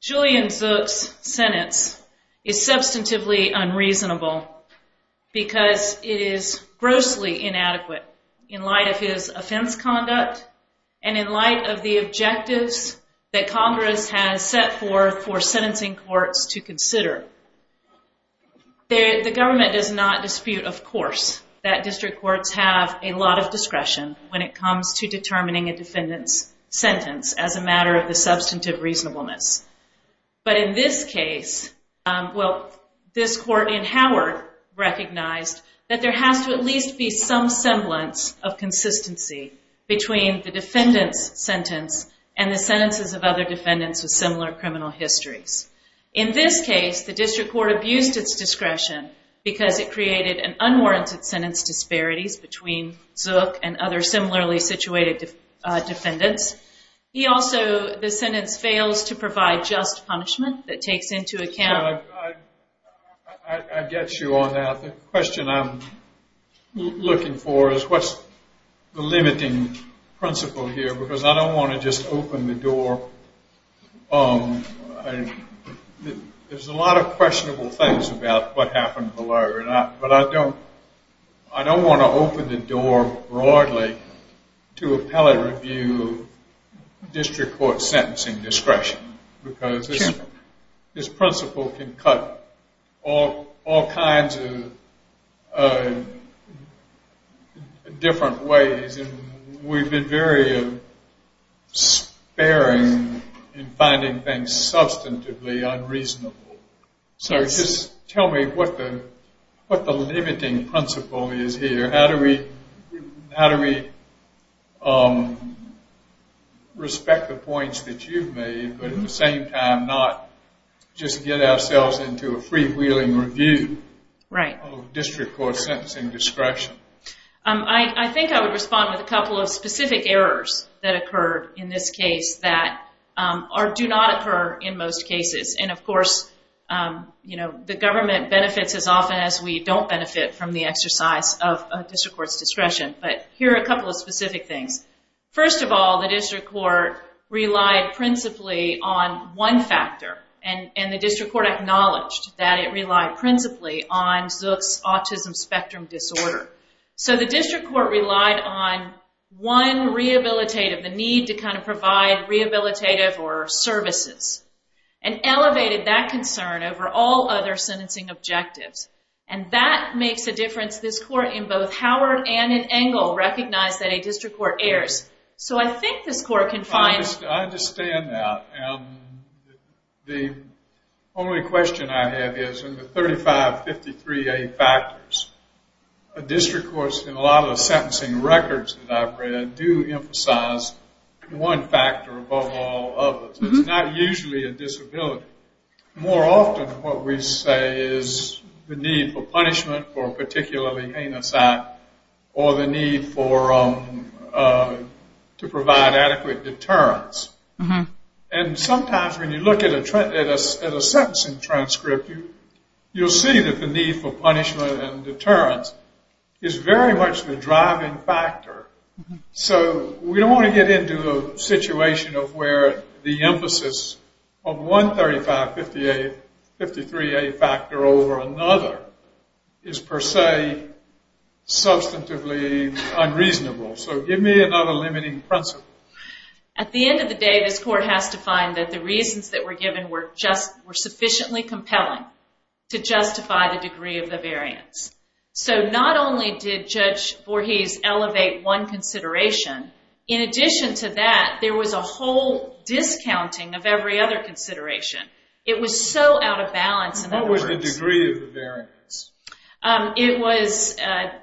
Julian Zuk's sentence is substantively unreasonable because it is grossly inadequate in light of his offense conduct and in light of the objectives that Congress has set forth for sentencing courts to consider. The government does not dispute, of course, that district courts have a lot of discretion when it comes to determining a defendant's sentence as a matter of the substantive reasonableness. But in this case, well, this court in Howard recognized that there has to at least be some between the defendant's sentence and the sentences of other defendants with similar criminal histories. In this case, the district court abused its discretion because it created an unwarranted sentence disparities between Zuk and other similarly situated defendants. He also, the sentence fails to provide just punishment that takes into account. I get you on that. The question I'm looking for is what's the limiting principle here because I don't want to just open the door. There's a lot of questionable things about what happened below. But I don't want to open the door broadly to appellate review district court sentencing discretion because this principle can cut all kinds of different ways. We've been very sparing in finding things substantively unreasonable. So just tell me what the limiting principle is here. How do we respect the points that you've made but at the same time not just get ourselves into a freewheeling review of district court sentencing discretion? I think I would respond with a couple of specific errors that occurred in this case that do not occur in most cases. And of course, you know, the government benefits as often as we don't benefit from the exercise of district court's discretion. But here are a couple of specific things. First of all, the district court relied principally on one factor. And the district court acknowledged that it relied principally on Zuk's autism spectrum disorder. So the district court relied on one rehabilitative, the need to kind of provide rehabilitative or services, and elevated that concern over all other sentencing objectives. And that makes a difference. This court in both Howard and in Engle recognized that a district court errs. So I think this court can find... I understand that. The only question I have is in the 3553A factors, a district court in a lot of the sentencing records that I've read do emphasize one factor above all others. It's not usually a disability. More often what we say is the need for punishment for a particularly heinous act or the need for... to provide adequate deterrence. And sometimes when you look at a sentencing transcript, you'll see that the need for punishment and deterrence is very much the driving factor. So we don't want to get into a situation of where the emphasis of one 3553A factor over another is per se substantively unreasonable. So give me another limiting principle. At the end of the day, this court has to find that the reasons that were given were just... to justify the degree of the variance. So not only did Judge Voorhees elevate one consideration, in addition to that, there was a whole discounting of every other consideration. It was so out of balance. What was the degree of the variance? It was...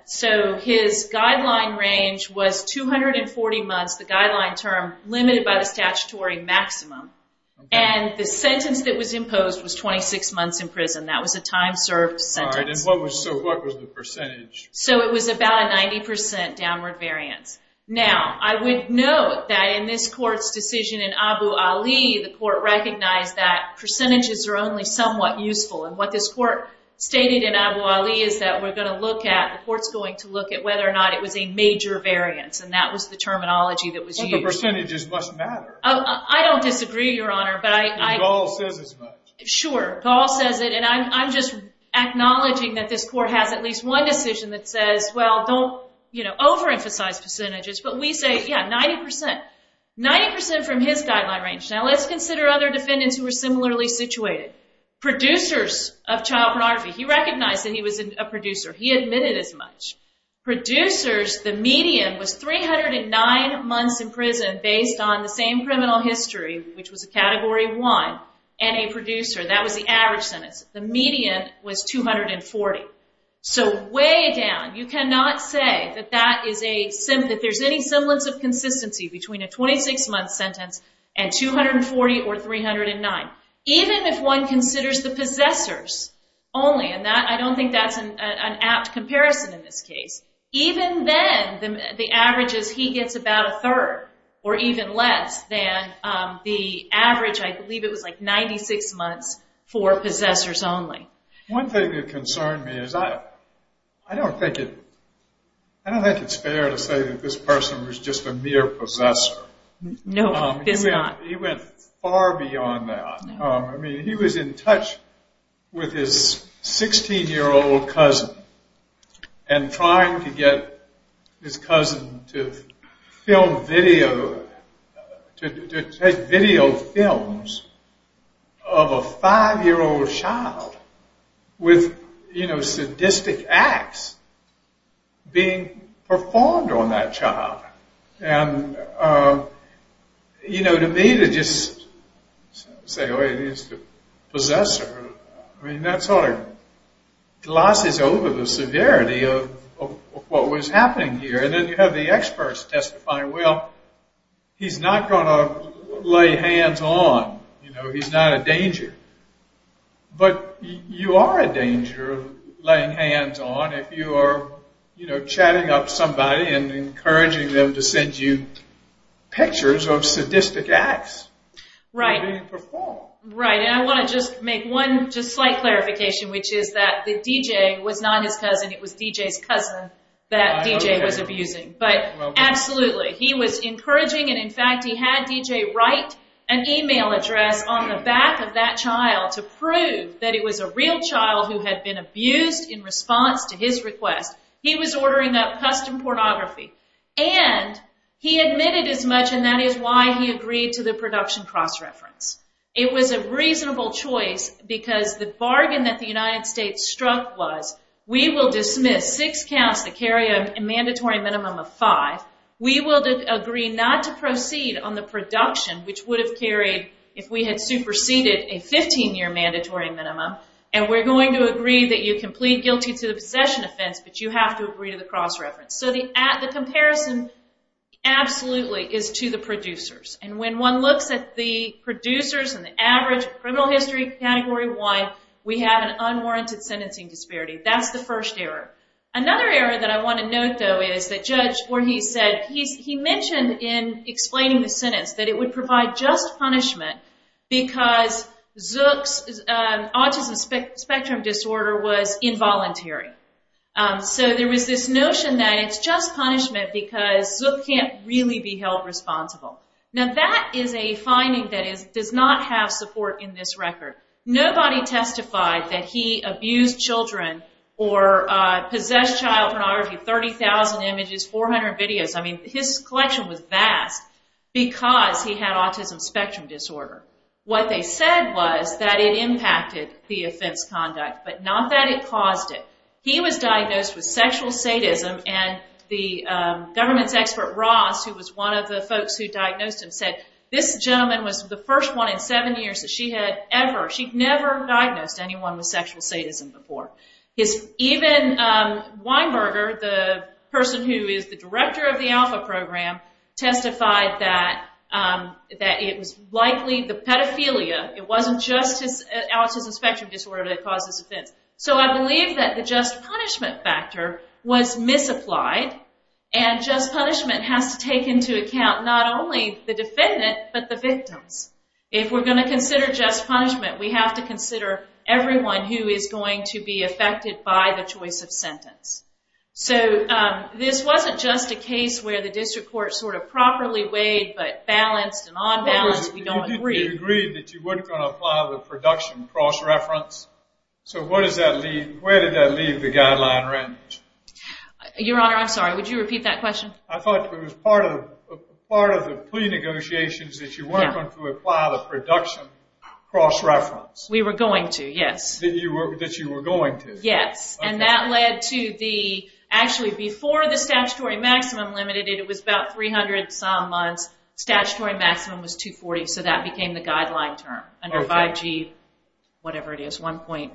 so his guideline range was 240 months, the guideline term, limited by the statutory maximum. And the sentence that was imposed was 26 months in prison. That was a time-served sentence. So what was the percentage? So it was about a 90% downward variance. Now, I would note that in this court's decision in Abu Ali, the court recognized that percentages are only somewhat useful. And what this court stated in Abu Ali is that we're going to look at... the court's going to look at whether or not it was a major variance. And that was the terminology that was used. I don't disagree, Your Honor, but I... Sure, Gall says it, and I'm just acknowledging that this court has at least one decision that says, well, don't, you know, overemphasize percentages. But we say, yeah, 90%. 90% from his guideline range. Now, let's consider other defendants who were similarly situated. Producers of child pornography. He recognized that he was a producer. He admitted as much. Producers, the median was 309 months in prison based on the same criminal history, which was a Category 1, and a producer. That was the average sentence. The median was 240. So way down. You cannot say that that is a... that there's any semblance of consistency between a 26-month sentence and 240 or 309, even if one considers the possessors only. And I don't think that's an apt comparison in this case. Even then, the average is he gets about a third or even less than the average. I believe it was like 96 months for possessors only. One thing that concerned me is I don't think it's fair to say that this person was just a mere possessor. No, it is not. He went far beyond that. I mean, he was in touch with his 16-year-old cousin and trying to get his cousin to film video... to take video films of a 5-year-old child with, you know, sadistic acts being performed on that child. And, you know, to me, to just say, oh, he's the possessor, I mean, that sort of glosses over the severity of what was happening here. And then you have the experts testifying, well, he's not going to lay hands on. You know, he's not a danger. But you are a danger of laying hands on if you are, you know, chatting up somebody and encouraging them to send you pictures of sadistic acts being performed. Right, and I want to just make one just slight clarification, which is that the DJ was not his cousin. It was DJ's cousin that DJ was abusing. But absolutely, he was encouraging, and in fact, he had DJ write an email address on the back of that child to prove that it was a real child who had been abused in response to his request. He was ordering up custom pornography. And he admitted as much, and that is why he agreed to the production cross-reference. It was a reasonable choice because the bargain that the United States struck was, we will dismiss six counts that carry a mandatory minimum of five. We will agree not to proceed on the production, which would have carried if we had superseded a 15-year mandatory minimum. And we're going to agree that you can plead guilty to the possession offense, but you have to agree to the cross-reference. So the comparison absolutely is to the producers. And when one looks at the producers and the average criminal history category-wide, we have an unwarranted sentencing disparity. That's the first error. Another error that I want to note, though, is that Judge Voorhees said, he mentioned in explaining the sentence that it would provide just punishment because Zook's autism spectrum disorder was involuntary. So there was this notion that it's just punishment because Zook can't really be held responsible. Now that is a finding that does not have support in this record. Nobody testified that he abused children or possessed child pornography. 30,000 images, 400 videos. I mean, his collection was vast because he had autism spectrum disorder. What they said was that it impacted the offense conduct, but not that it caused it. He was diagnosed with sexual sadism, and the government's expert, Ross, who was one of the folks who diagnosed him, said this gentleman was the first one in seven years that she had ever, she'd never diagnosed anyone with sexual sadism before. Even Weinberger, the person who is the director of the Alpha program, testified that it was likely the pedophilia, it wasn't just his autism spectrum disorder that caused this offense. So I believe that the just punishment factor was misapplied, and just punishment has to take into account not only the defendant, but the victims. If we're going to consider just punishment, we have to consider everyone who is going to be affected by the choice of sentence. So this wasn't just a case where the district court sort of properly weighed, but balanced and unbalanced, we don't agree. You agreed that you weren't going to apply the production cross-reference, so where did that leave the guideline range? Your Honor, I'm sorry, would you repeat that question? I thought it was part of the plea negotiations that you weren't going to apply the production cross-reference. We were going to, yes. That you were going to. Yes, and that led to the, actually before the statutory maximum limited, it was about 300 some months, statutory maximum was 240, so that became the guideline term, under 5G, whatever it is, one point,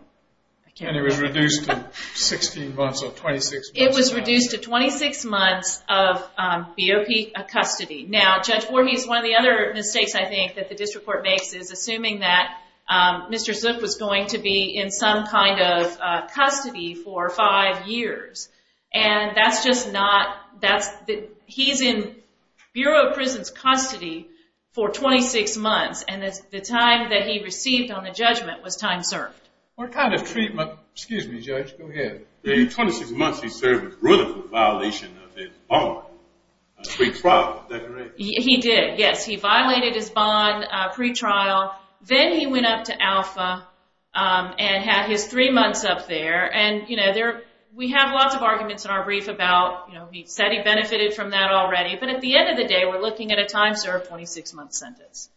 I can't remember. And it was reduced to 16 months or 26 months. It was reduced to 26 months of BOP custody. Now, Judge Voorhees, one of the other mistakes I think that the district court makes is assuming that Mr. Zook was going to be in some kind of custody for five years, and that's just not, he's in Bureau of Prisons custody for 26 months, and the time that he received on the judgment was time served. What kind of treatment, excuse me, Judge, go ahead. The 26 months he served was really for violation of his bond, pre-trial declaration. He did, yes. He violated his bond pre-trial. Then he went up to alpha and had his three months up there. And, you know, we have lots of arguments in our brief about, you know, he said he benefited from that already, but at the end of the day we're looking at a time served 26-month sentence.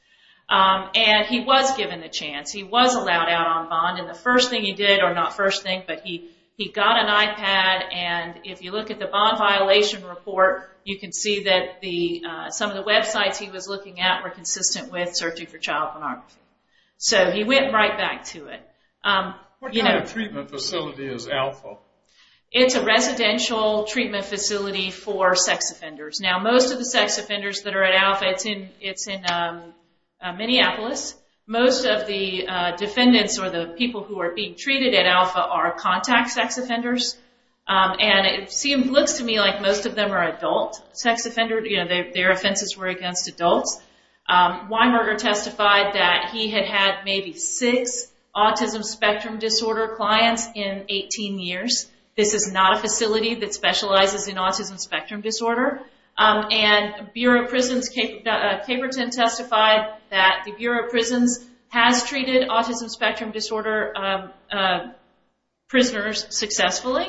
And he was given the chance. He was allowed out on bond, and the first thing he did, or not first thing, but he got an iPad, and if you look at the bond violation report, you can see that some of the websites he was looking at were consistent with searching for child pornography. So he went right back to it. What kind of treatment facility is alpha? It's a residential treatment facility for sex offenders. Now most of the sex offenders that are at alpha, it's in Minneapolis. Most of the defendants or the people who are being treated at alpha are contact sex offenders, and it looks to me like most of them are adult. Sex offenders, you know, their offenses were against adults. Weinberger testified that he had had maybe six autism spectrum disorder clients in 18 years. This is not a facility that specializes in autism spectrum disorder. And Bureau of Prisons, Caperton testified that the Bureau of Prisons has treated autism spectrum disorder prisoners successfully.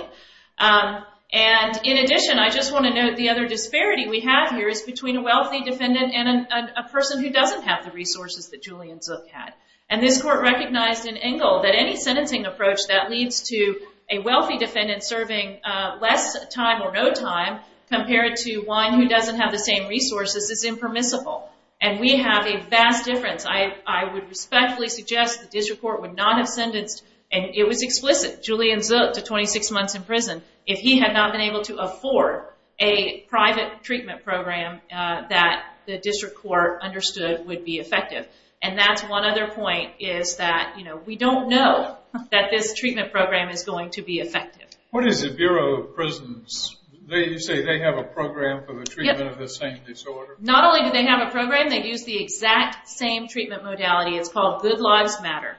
And in addition, I just want to note the other disparity we have here is between a wealthy defendant and a person who doesn't have the resources that Julian Zook had. And this court recognized in Engel that any sentencing approach that leads to a wealthy defendant serving less time or no time compared to one who doesn't have the same resources is impermissible. And we have a vast difference. I would respectfully suggest the district court would not have sentenced, and it was explicit, Julian Zook to 26 months in prison, if he had not been able to afford a private treatment program that the district court understood would be effective. And that's one other point is that, you know, we don't know that this treatment program is going to be effective. What is the Bureau of Prisons? You say they have a program for the treatment of the same disorder? Not only do they have a program, they use the exact same treatment modality. It's called Good Lives Matter.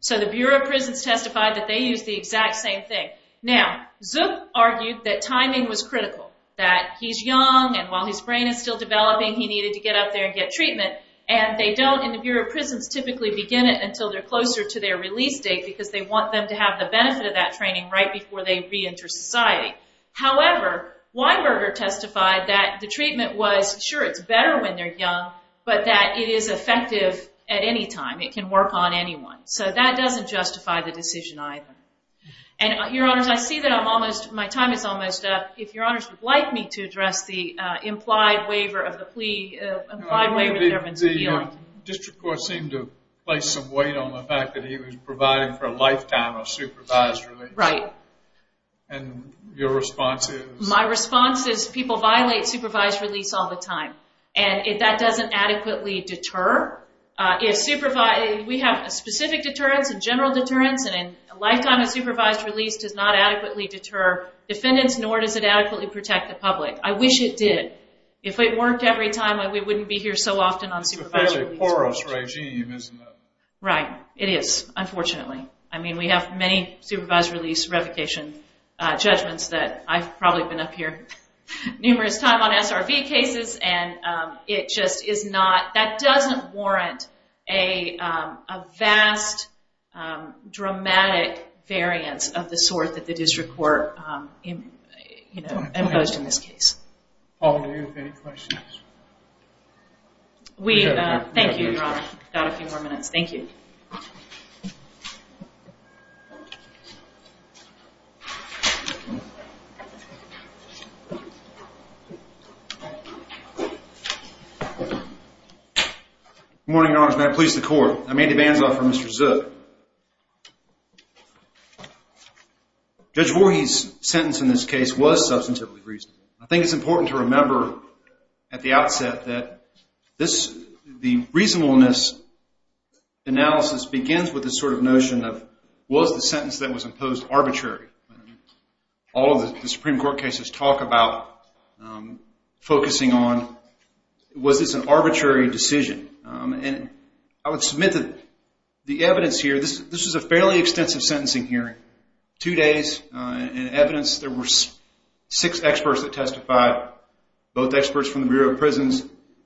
So the Bureau of Prisons testified that they use the exact same thing. Now, Zook argued that timing was critical, that he's young, and while his brain is still developing, he needed to get up there and get treatment. And they don't in the Bureau of Prisons typically begin it until they're closer to their release date because they want them to have the benefit of that training right before they reenter society. However, Weinberger testified that the treatment was, sure, it's better when they're young, but that it is effective at any time. It can work on anyone. So that doesn't justify the decision either. And, Your Honors, I see that my time is almost up. If Your Honors would like me to address the implied waiver of the plea, implied waiver of the government's appeal. District Court seemed to place some weight on the fact that he was provided for a lifetime of supervised release. Right. And your response is? My response is people violate supervised release all the time, and that doesn't adequately deter. We have a specific deterrence, a general deterrence, and a lifetime of supervised release does not adequately deter defendants, nor does it adequately protect the public. I wish it did. If it worked every time, we wouldn't be here so often on supervised release. It's a fairly porous regime, isn't it? Right. It is, unfortunately. I mean, we have many supervised release revocation judgments that I've probably been up here numerous times on SRV cases, and it just is not. That doesn't warrant a vast, dramatic variance of the sort that the District Court imposed in this case. All of you, any questions? We thank you, Your Honor. We've got a few more minutes. Thank you. Good morning, Your Honors. May I please the Court? I'm Andy Banzoff from Mr. Zook. Judge Voorhees' sentence in this case was substantively reasonable. I think it's important to remember at the outset that the reasonableness analysis begins with this sort of notion of, was the sentence that was imposed arbitrary? All of the Supreme Court cases talk about focusing on, was this an arbitrary decision? And I would submit that the evidence here, this was a fairly extensive sentencing hearing, two days in evidence. There were six experts that testified, both experts from the Bureau of Prisons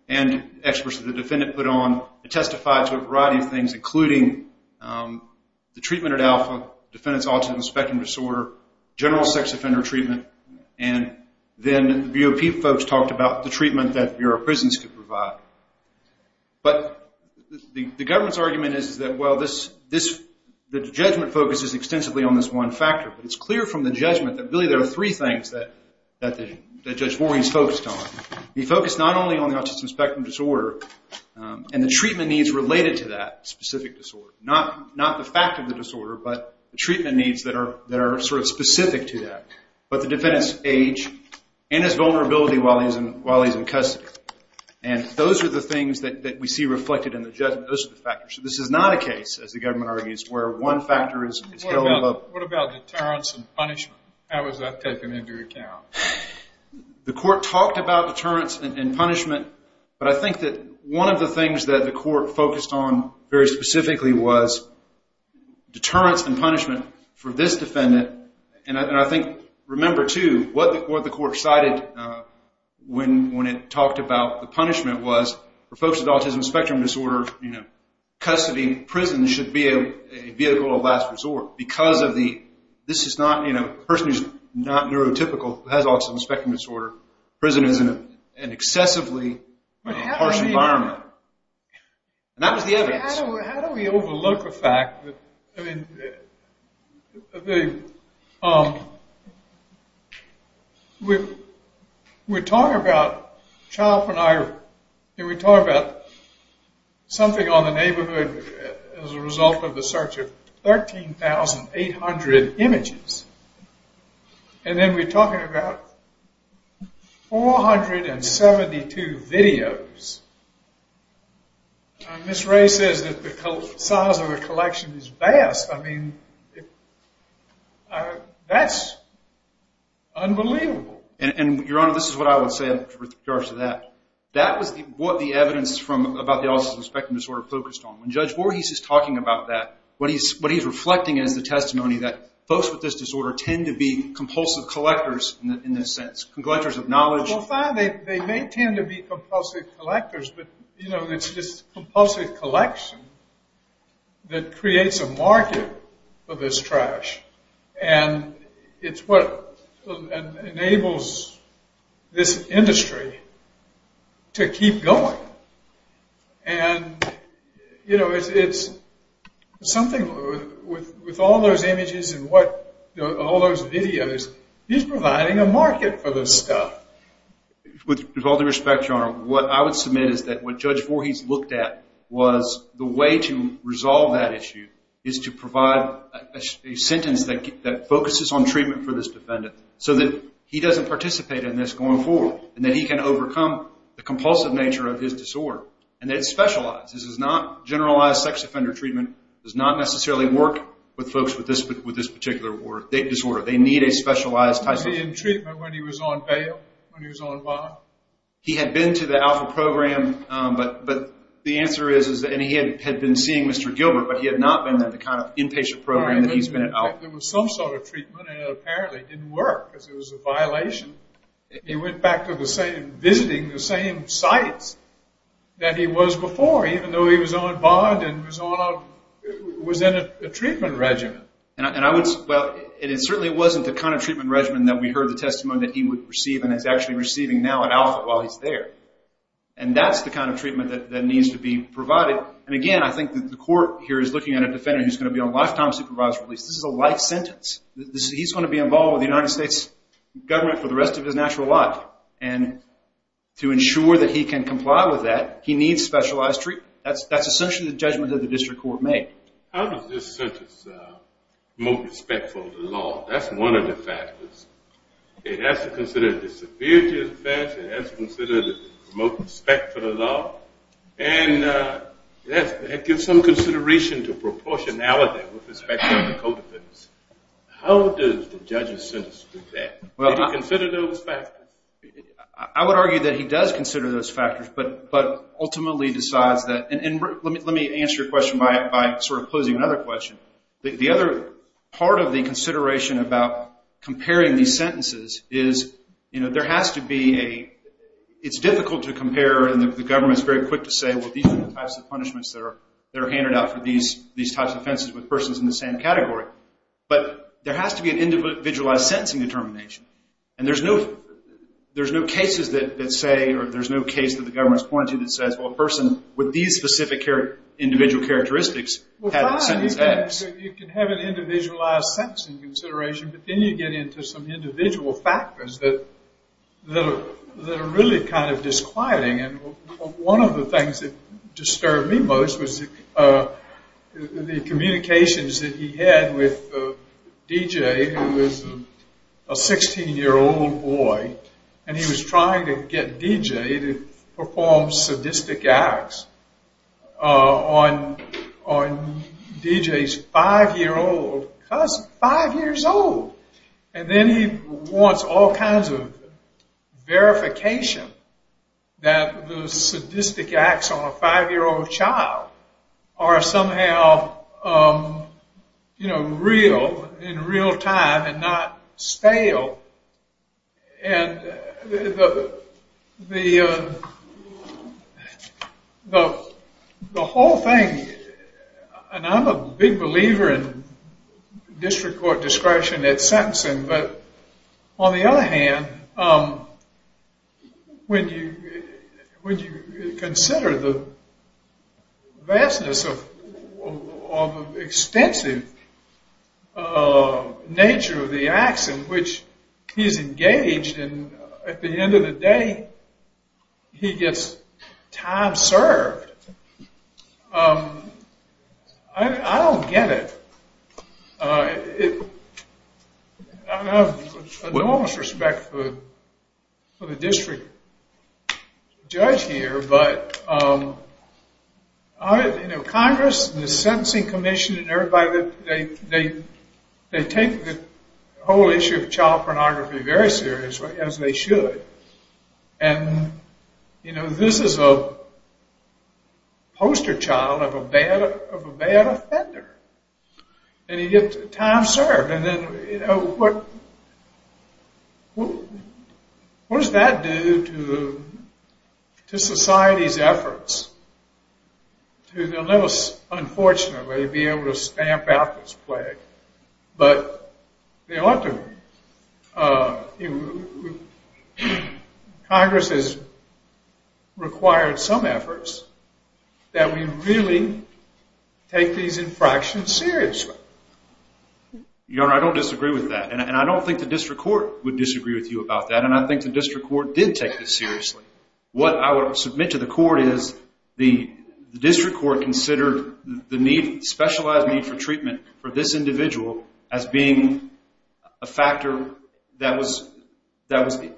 and experts that the defendant put on. They testified to a variety of things, including the treatment at alpha, defendant's autism spectrum disorder, general sex offender treatment, and then the BOP folks talked about the treatment that the Bureau of Prisons could provide. But the government's argument is that, well, the judgment focuses extensively on this one factor. But it's clear from the judgment that really there are three things that Judge Voorhees focused on. He focused not only on the autism spectrum disorder and the treatment needs related to that specific disorder. Not the fact of the disorder, but the treatment needs that are sort of specific to that. But the defendant's age and his vulnerability while he's in custody. And those are the things that we see reflected in the judgment. Those are the factors. So this is not a case, as the government argues, where one factor is held above. What about deterrence and punishment? How is that taken into account? The court talked about deterrence and punishment, but I think that one of the things that the court focused on very specifically was deterrence and punishment for this defendant. And I think, remember, too, what the court cited when it talked about the punishment was for folks with autism spectrum disorder, custody in prison should be a vehicle of last resort. Because this is not a person who's not neurotypical, who has autism spectrum disorder, prison is an excessively harsh environment. And that was the evidence. How do we overlook the fact that... We're talking about... We're talking about something on the neighborhood as a result of the search of 13,800 images. And then we're talking about 472 videos. Ms. Ray says that the size of the collection is vast. I mean, that's unbelievable. And, Your Honor, this is what I would say in regards to that. That was what the evidence about the autism spectrum disorder focused on. When Judge Voorhees is talking about that, what he's reflecting is the testimony that folks with this disorder tend to be compulsive collectors in this sense, collectors of knowledge. Well, fine, they may tend to be compulsive collectors, but it's this compulsive collection that creates a market for this trash. And it's what enables this industry to keep going. And, you know, it's something with all those images and all those videos, he's providing a market for this stuff. With all due respect, Your Honor, what I would submit is that what Judge Voorhees looked at was the way to resolve that issue is to provide a sentence that focuses on treatment for this defendant so that he doesn't participate in this going forward and that he can overcome the compulsive nature of his disorder and that it's specialized. This is not generalized sex offender treatment. It does not necessarily work with folks with this particular disorder. They need a specialized type of treatment. Was he in treatment when he was on bail, when he was on bond? He had been to the Alpha program, but the answer is, and he had been seeing Mr. Gilbert, but he had not been at the kind of inpatient program that he's been at Alpha. There was some sort of treatment, and it apparently didn't work because it was a violation. He went back to visiting the same sites that he was before, even though he was on bond and was in a treatment regimen. And it certainly wasn't the kind of treatment regimen that we heard the testimony that he would receive and is actually receiving now at Alpha while he's there. And that's the kind of treatment that needs to be provided. And again, I think that the court here is looking at a defendant who's going to be on lifetime supervisory release. This is a life sentence. He's going to be involved with the United States government for the rest of his natural life. And to ensure that he can comply with that, he needs specialized treatment. That's essentially the judgment that the district court made. How does this sentence move respect for the law? That's one of the factors. It has to consider the severity of the offense. It has to consider the remote respect for the law. And it gives some consideration to proportionality with respect to the co-defendants. How does the judge's sentence do that? Did he consider those factors? I would argue that he does consider those factors, but ultimately decides that. And let me answer your question by sort of posing another question. The other part of the consideration about comparing these sentences is there has to be a It's difficult to compare, and the government is very quick to say, well, these are the types of punishments that are handed out for these types of offenses with persons in the same category. But there has to be an individualized sentencing determination. And there's no cases that say, or there's no case that the government has pointed to that says, well, a person with these specific individual characteristics has a sentence X. You can have an individualized sentencing consideration, but then you get into some individual factors that are really kind of disquieting. And one of the things that disturbed me most was the communications that he had with DJ, who was a 16-year-old boy, and he was trying to get DJ to perform sadistic acts on DJ's 5-year-old cousin. Five years old! And then he wants all kinds of verification that the sadistic acts on a 5-year-old child are somehow real, in real time, and not stale. And the whole thing, and I'm a big believer in district court discretion at sentencing, but on the other hand, when you consider the vastness of extensive nature of the acts in which he's engaged, and at the end of the day, he gets time served, I don't get it. I have enormous respect for the district judge here, but Congress and the Sentencing Commission and everybody, they take the whole issue of child pornography very seriously, as they should. And this is a poster child of a bad offender, and he gets time served. And then, what does that do to society's efforts to, they'll never, unfortunately, be able to stamp out this plague, but Congress has required some efforts that we really take these infractions seriously. Your Honor, I don't disagree with that, and I don't think the district court would disagree with you about that, and I think the district court did take this seriously. What I would submit to the court is the district court considered the need, specialized need for treatment for this individual as being a factor that was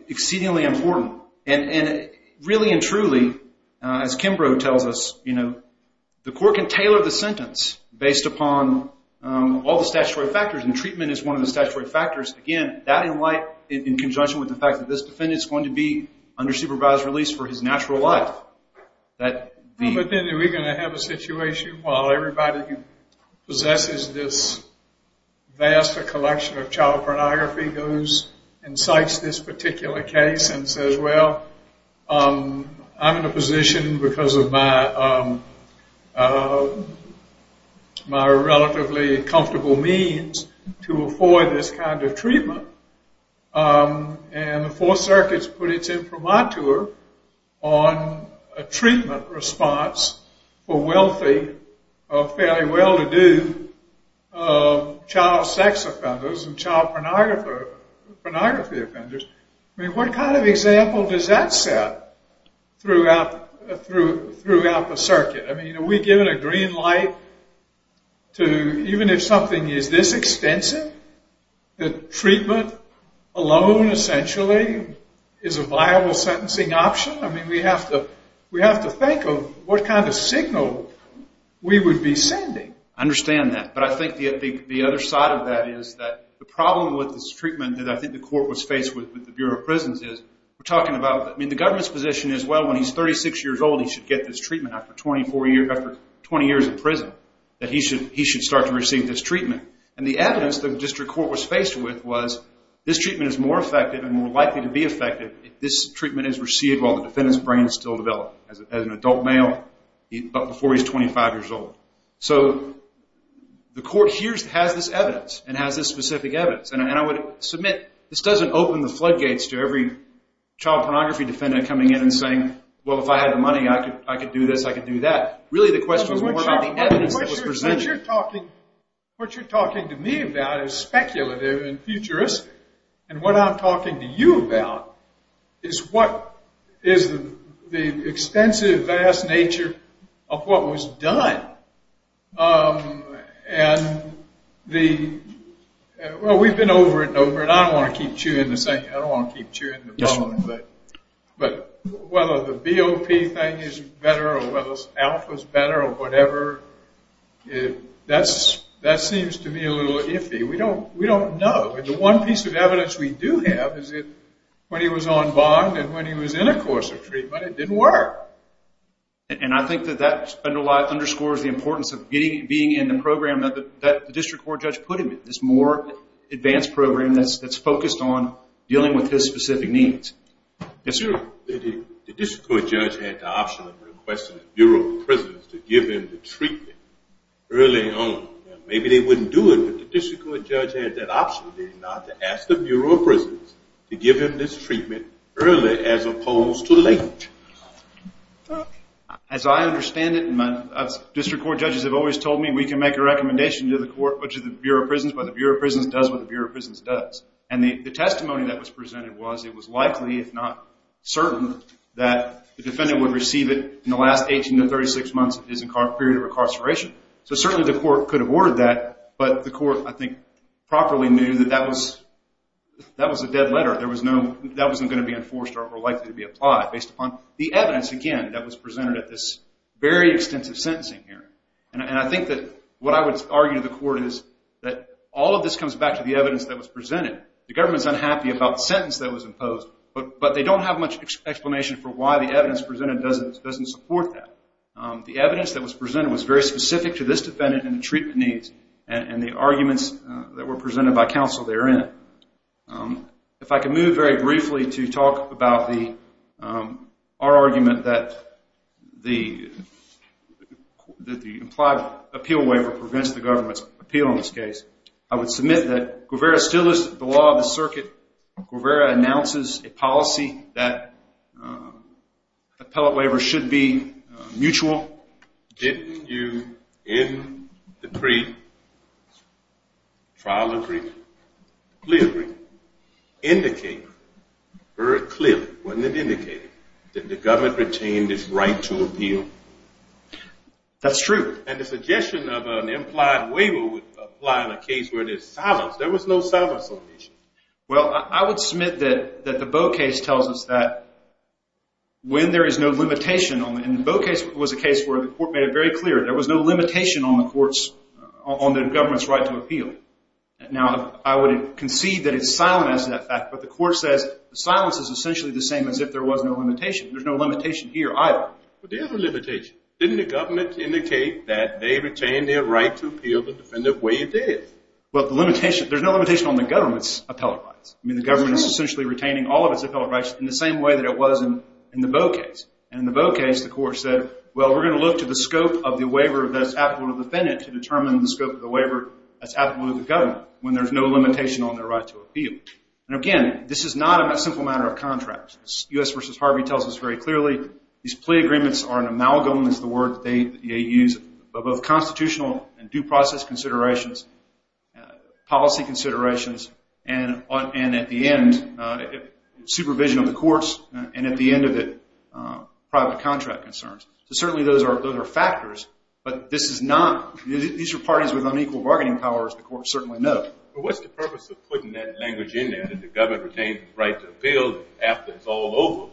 exceedingly important. And really and truly, as Kimbrough tells us, the court can tailor the sentence based upon all the statutory factors, and treatment is one of the statutory factors. Again, that in light, in conjunction with the fact that this defendant is going to be under supervised release for his natural life. But then are we going to have a situation where everybody possesses this vast collection of child pornography, and somebody goes and cites this particular case and says, well, I'm in a position because of my relatively comfortable means to afford this kind of treatment, and the Fourth Circuit's put it in for my tour on a treatment response for wealthy, fairly well-to-do child sex offenders and child pornography offenders. I mean, what kind of example does that set throughout the circuit? I mean, are we given a green light to, even if something is this extensive, that treatment alone essentially is a viable sentencing option? I mean, we have to think of what kind of signal we would be sending. I understand that, but I think the other side of that is that the problem with this treatment that I think the court was faced with with the Bureau of Prisons is we're talking about, I mean, the government's position is, well, when he's 36 years old, he should get this treatment after 20 years in prison, that he should start to receive this treatment. And the evidence the district court was faced with was, this treatment is more effective and more likely to be effective if this treatment is received while the defendant's brain is still developing. As an adult male, but before he's 25 years old. So the court has this evidence and has this specific evidence, and I would submit, this doesn't open the floodgates to every child pornography defendant coming in and saying, well, if I had the money, I could do this, I could do that. Really the question is more about the evidence that was presented. What you're talking to me about is speculative and futuristic, and what I'm talking to you about is what is the extensive, vast nature of what was done. And the, well, we've been over and over, and I don't want to keep chewing this thing, I don't want to keep chewing the bone, but whether the BOP thing is better or whether alpha is better or whatever, that seems to me a little iffy. We don't know. The one piece of evidence we do have is that when he was on bond and when he was in a course of treatment, it didn't work. And I think that that underscores the importance of being in the program that the district court judge put him in, this more advanced program that's focused on dealing with his specific needs. The district court judge had the option of requesting the Bureau of Prisons to give him the treatment early on. Maybe they wouldn't do it, but the district court judge had that option, did he not, to ask the Bureau of Prisons to give him this treatment early as opposed to late. As I understand it, district court judges have always told me we can make a recommendation to the Bureau of Prisons, but the Bureau of Prisons does what the Bureau of Prisons does. And the testimony that was presented was it was likely, if not certain, that the defendant would receive it in the last 18 to 36 months of his period of incarceration. So certainly the court could have ordered that, but the court, I think, properly knew that that was a dead letter. That wasn't going to be enforced or likely to be applied based upon the evidence, again, that was presented at this very extensive sentencing hearing. And I think that what I would argue to the court is that all of this comes back to the evidence that was presented. The government's unhappy about the sentence that was imposed, but they don't have much explanation for why the evidence presented doesn't support that. The evidence that was presented was very specific to this defendant and the treatment needs and the arguments that were presented by counsel therein. If I could move very briefly to talk about our argument that the implied appeal waiver prevents the government's appeal in this case, I would submit that Guevara still is the law of the circuit. Guevara announces a policy that appellate waivers should be mutual. Didn't you, in the pre-trial agreement, clearly indicate, very clearly, wasn't it indicated, that the government retained its right to appeal? That's true. And the suggestion of an implied waiver would apply in a case where there's silence. Well, I would submit that the Bowe case tells us that when there is no limitation, and the Bowe case was a case where the court made it very clear, there was no limitation on the government's right to appeal. Now, I would concede that it's silent as to that fact, but the court says silence is essentially the same as if there was no limitation. There's no limitation here either. But there is a limitation. Didn't the government indicate that they retained their right to appeal the defendant way it did? Well, there's no limitation on the government's appellate rights. I mean, the government is essentially retaining all of its appellate rights in the same way that it was in the Bowe case. And in the Bowe case, the court said, well, we're going to look to the scope of the waiver that's applicable to the defendant to determine the scope of the waiver that's applicable to the government, when there's no limitation on their right to appeal. And, again, this is not a simple matter of contract. U.S. v. Harvey tells us very clearly these plea agreements are an amalgam, amalgam is the word that they use, of both constitutional and due process considerations, policy considerations, and at the end, supervision of the courts, and at the end of it, private contract concerns. So certainly those are factors, but this is not – these are parties with unequal bargaining powers, the courts certainly know. Well, what's the purpose of putting that language in there, that the government retained the right to appeal after it's all over?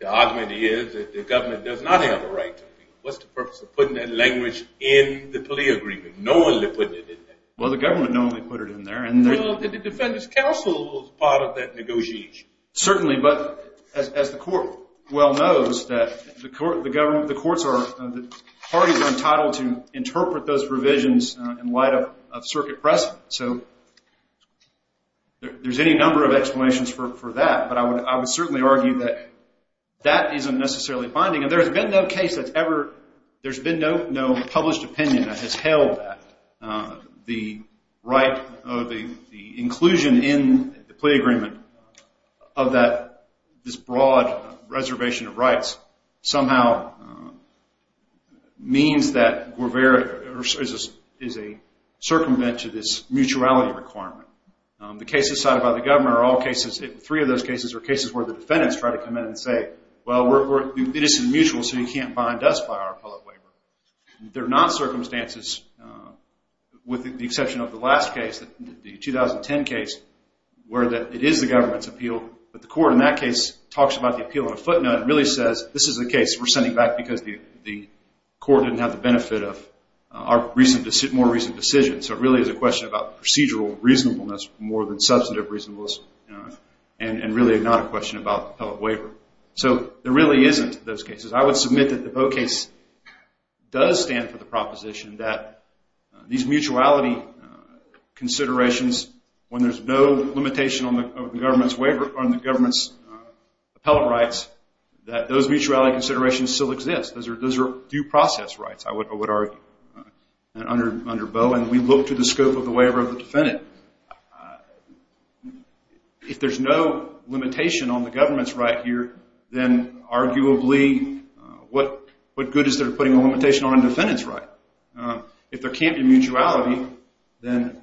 The argument is that the government does not have a right to appeal. What's the purpose of putting that language in the plea agreement, knowingly putting it in there? Well, the government knowingly put it in there. Well, the defendant's counsel was part of that negotiation. Certainly, but as the court well knows, the courts are – the parties are entitled to interpret those revisions in light of circuit precedent. So there's any number of explanations for that, but I would certainly argue that that isn't necessarily binding, and there's been no case that's ever – there's been no published opinion that has held that. The right of the inclusion in the plea agreement of that – this broad reservation of rights somehow means that we're very – is a circumvent to this mutuality requirement. The cases cited by the government are all cases – three of those cases are cases where the defendants try to come in and say, well, we're – this is mutual, so you can't bind us by our public waiver. They're not circumstances with the exception of the last case, the 2010 case, where it is the government's appeal, but the court in that case talks about the appeal in a footnote and really says this is a case we're sending back because the court didn't have the benefit of our recent – reasonableness more than substantive reasonableness and really not a question about the public waiver. So there really isn't those cases. I would submit that the Boe case does stand for the proposition that these mutuality considerations, when there's no limitation on the government's waiver – on the government's appellate rights, that those mutuality considerations still exist. Those are due process rights, I would argue, under Boe, and we look to the scope of the waiver of the defendant. If there's no limitation on the government's right here, then arguably what good is there putting a limitation on a defendant's right? If there can't be mutuality, then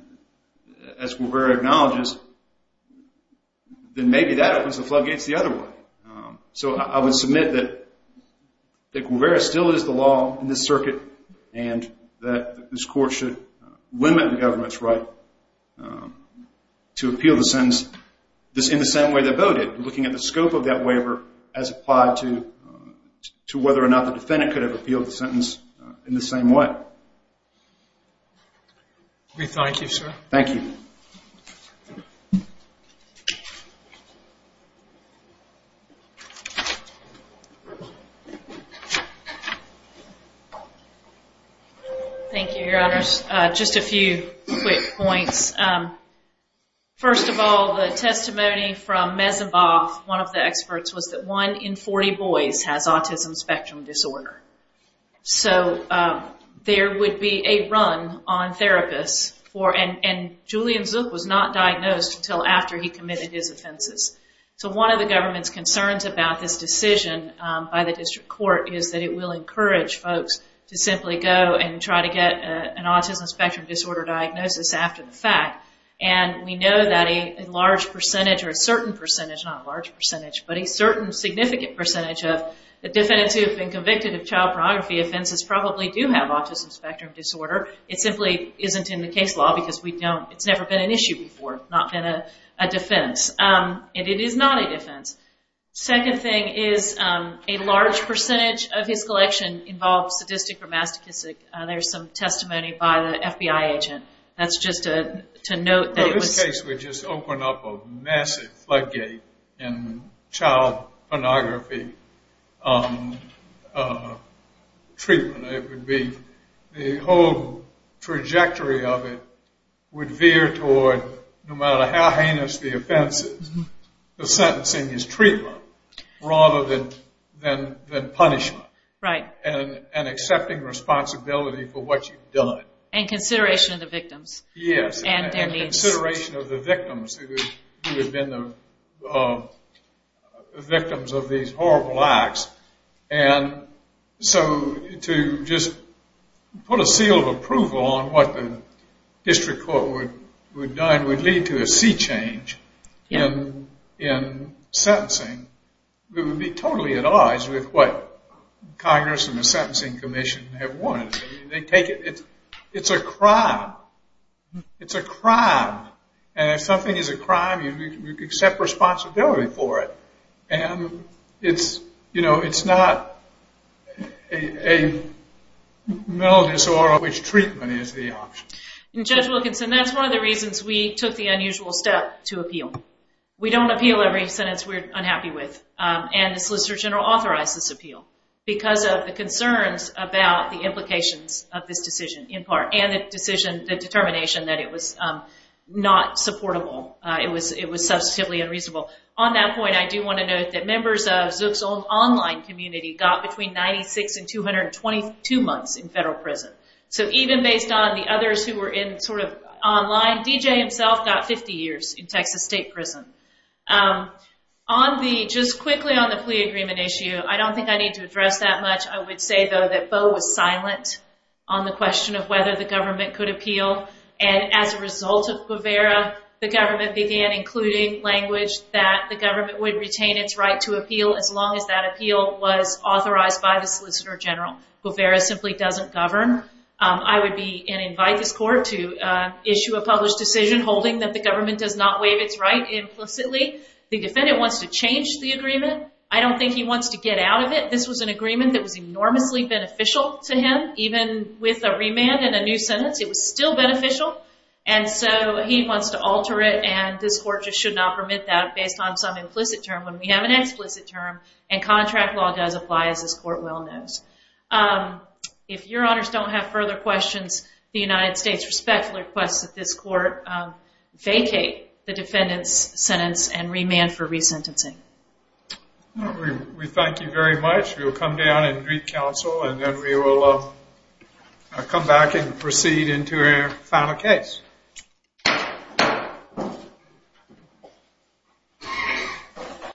as Guevara acknowledges, then maybe that opens the floodgates the other way. So I would submit that Guevara still is the law in this circuit and that this court should limit the government's right to appeal the sentence in the same way that Boe did, looking at the scope of that waiver as applied to whether or not the defendant could have appealed the sentence in the same way. We thank you, sir. Thank you. Thank you, Your Honors. Just a few quick points. First of all, the testimony from Mesenboff, one of the experts, was that one in 40 boys has autism spectrum disorder. So there would be a run on therapists for – and Julian Zook was not diagnosed until after he committed his offenses. So one of the government's concerns about this decision by the district court is that it will encourage folks to simply go and try to get an autism spectrum disorder diagnosis after the fact. And we know that a large percentage, or a certain percentage, not a large percentage, but a certain significant percentage of the defendants who have been convicted of child pornography offenses probably do have autism spectrum disorder. It simply isn't in the case law because it's never been an issue before, not been a defense. And it is not a defense. Second thing is a large percentage of his collection involves sadistic or masochistic. There's some testimony by the FBI agent. That's just to note that it was – Well, this case would just open up a massive floodgate in child pornography treatment. It would be the whole trajectory of it would veer toward no matter how heinous the offense is, the sentencing is treatment rather than punishment. Right. And accepting responsibility for what you've done. And consideration of the victims. Yes, and consideration of the victims who have been the victims of these horrible acts. And so to just put a seal of approval on what the district court would do and would lead to a sea change in sentencing, we would be totally at odds with what Congress and the Sentencing Commission have wanted. It's a crime. It's a crime. And if something is a crime, you accept responsibility for it. And it's not a mental disorder which treatment is the option. And Judge Wilkinson, that's one of the reasons we took the unusual step to appeal. We don't appeal every sentence we're unhappy with. And the Solicitor General authorized this appeal because of the concerns about the implications of this decision, in part, and the determination that it was not supportable. It was substantively unreasonable. On that point, I do want to note that members of Zook's own online community got between 96 and 222 months in federal prison. So even based on the others who were in sort of online, DJ himself got 50 years in Texas state prison. Just quickly on the plea agreement issue, I don't think I need to address that much. I would say, though, that Bo was silent on the question of whether the government could appeal. And as a result of Guevara, the government began including language that the government would retain its right to appeal as long as that appeal was authorized by the Solicitor General. Guevara simply doesn't govern. I would be and invite this court to issue a published decision holding that the government does not waive its right implicitly. The defendant wants to change the agreement. I don't think he wants to get out of it. This was an agreement that was enormously beneficial to him. Even with a remand and a new sentence, it was still beneficial. And so he wants to alter it, and this court just should not permit that based on some implicit term. We have an explicit term, and contract law does apply, as this court well knows. If your honors don't have further questions, the United States respectfully requests that this court vacate the defendant's sentence and remand for resentencing. We thank you very much. We will come down and greet counsel, and then we will come back and proceed into our final case.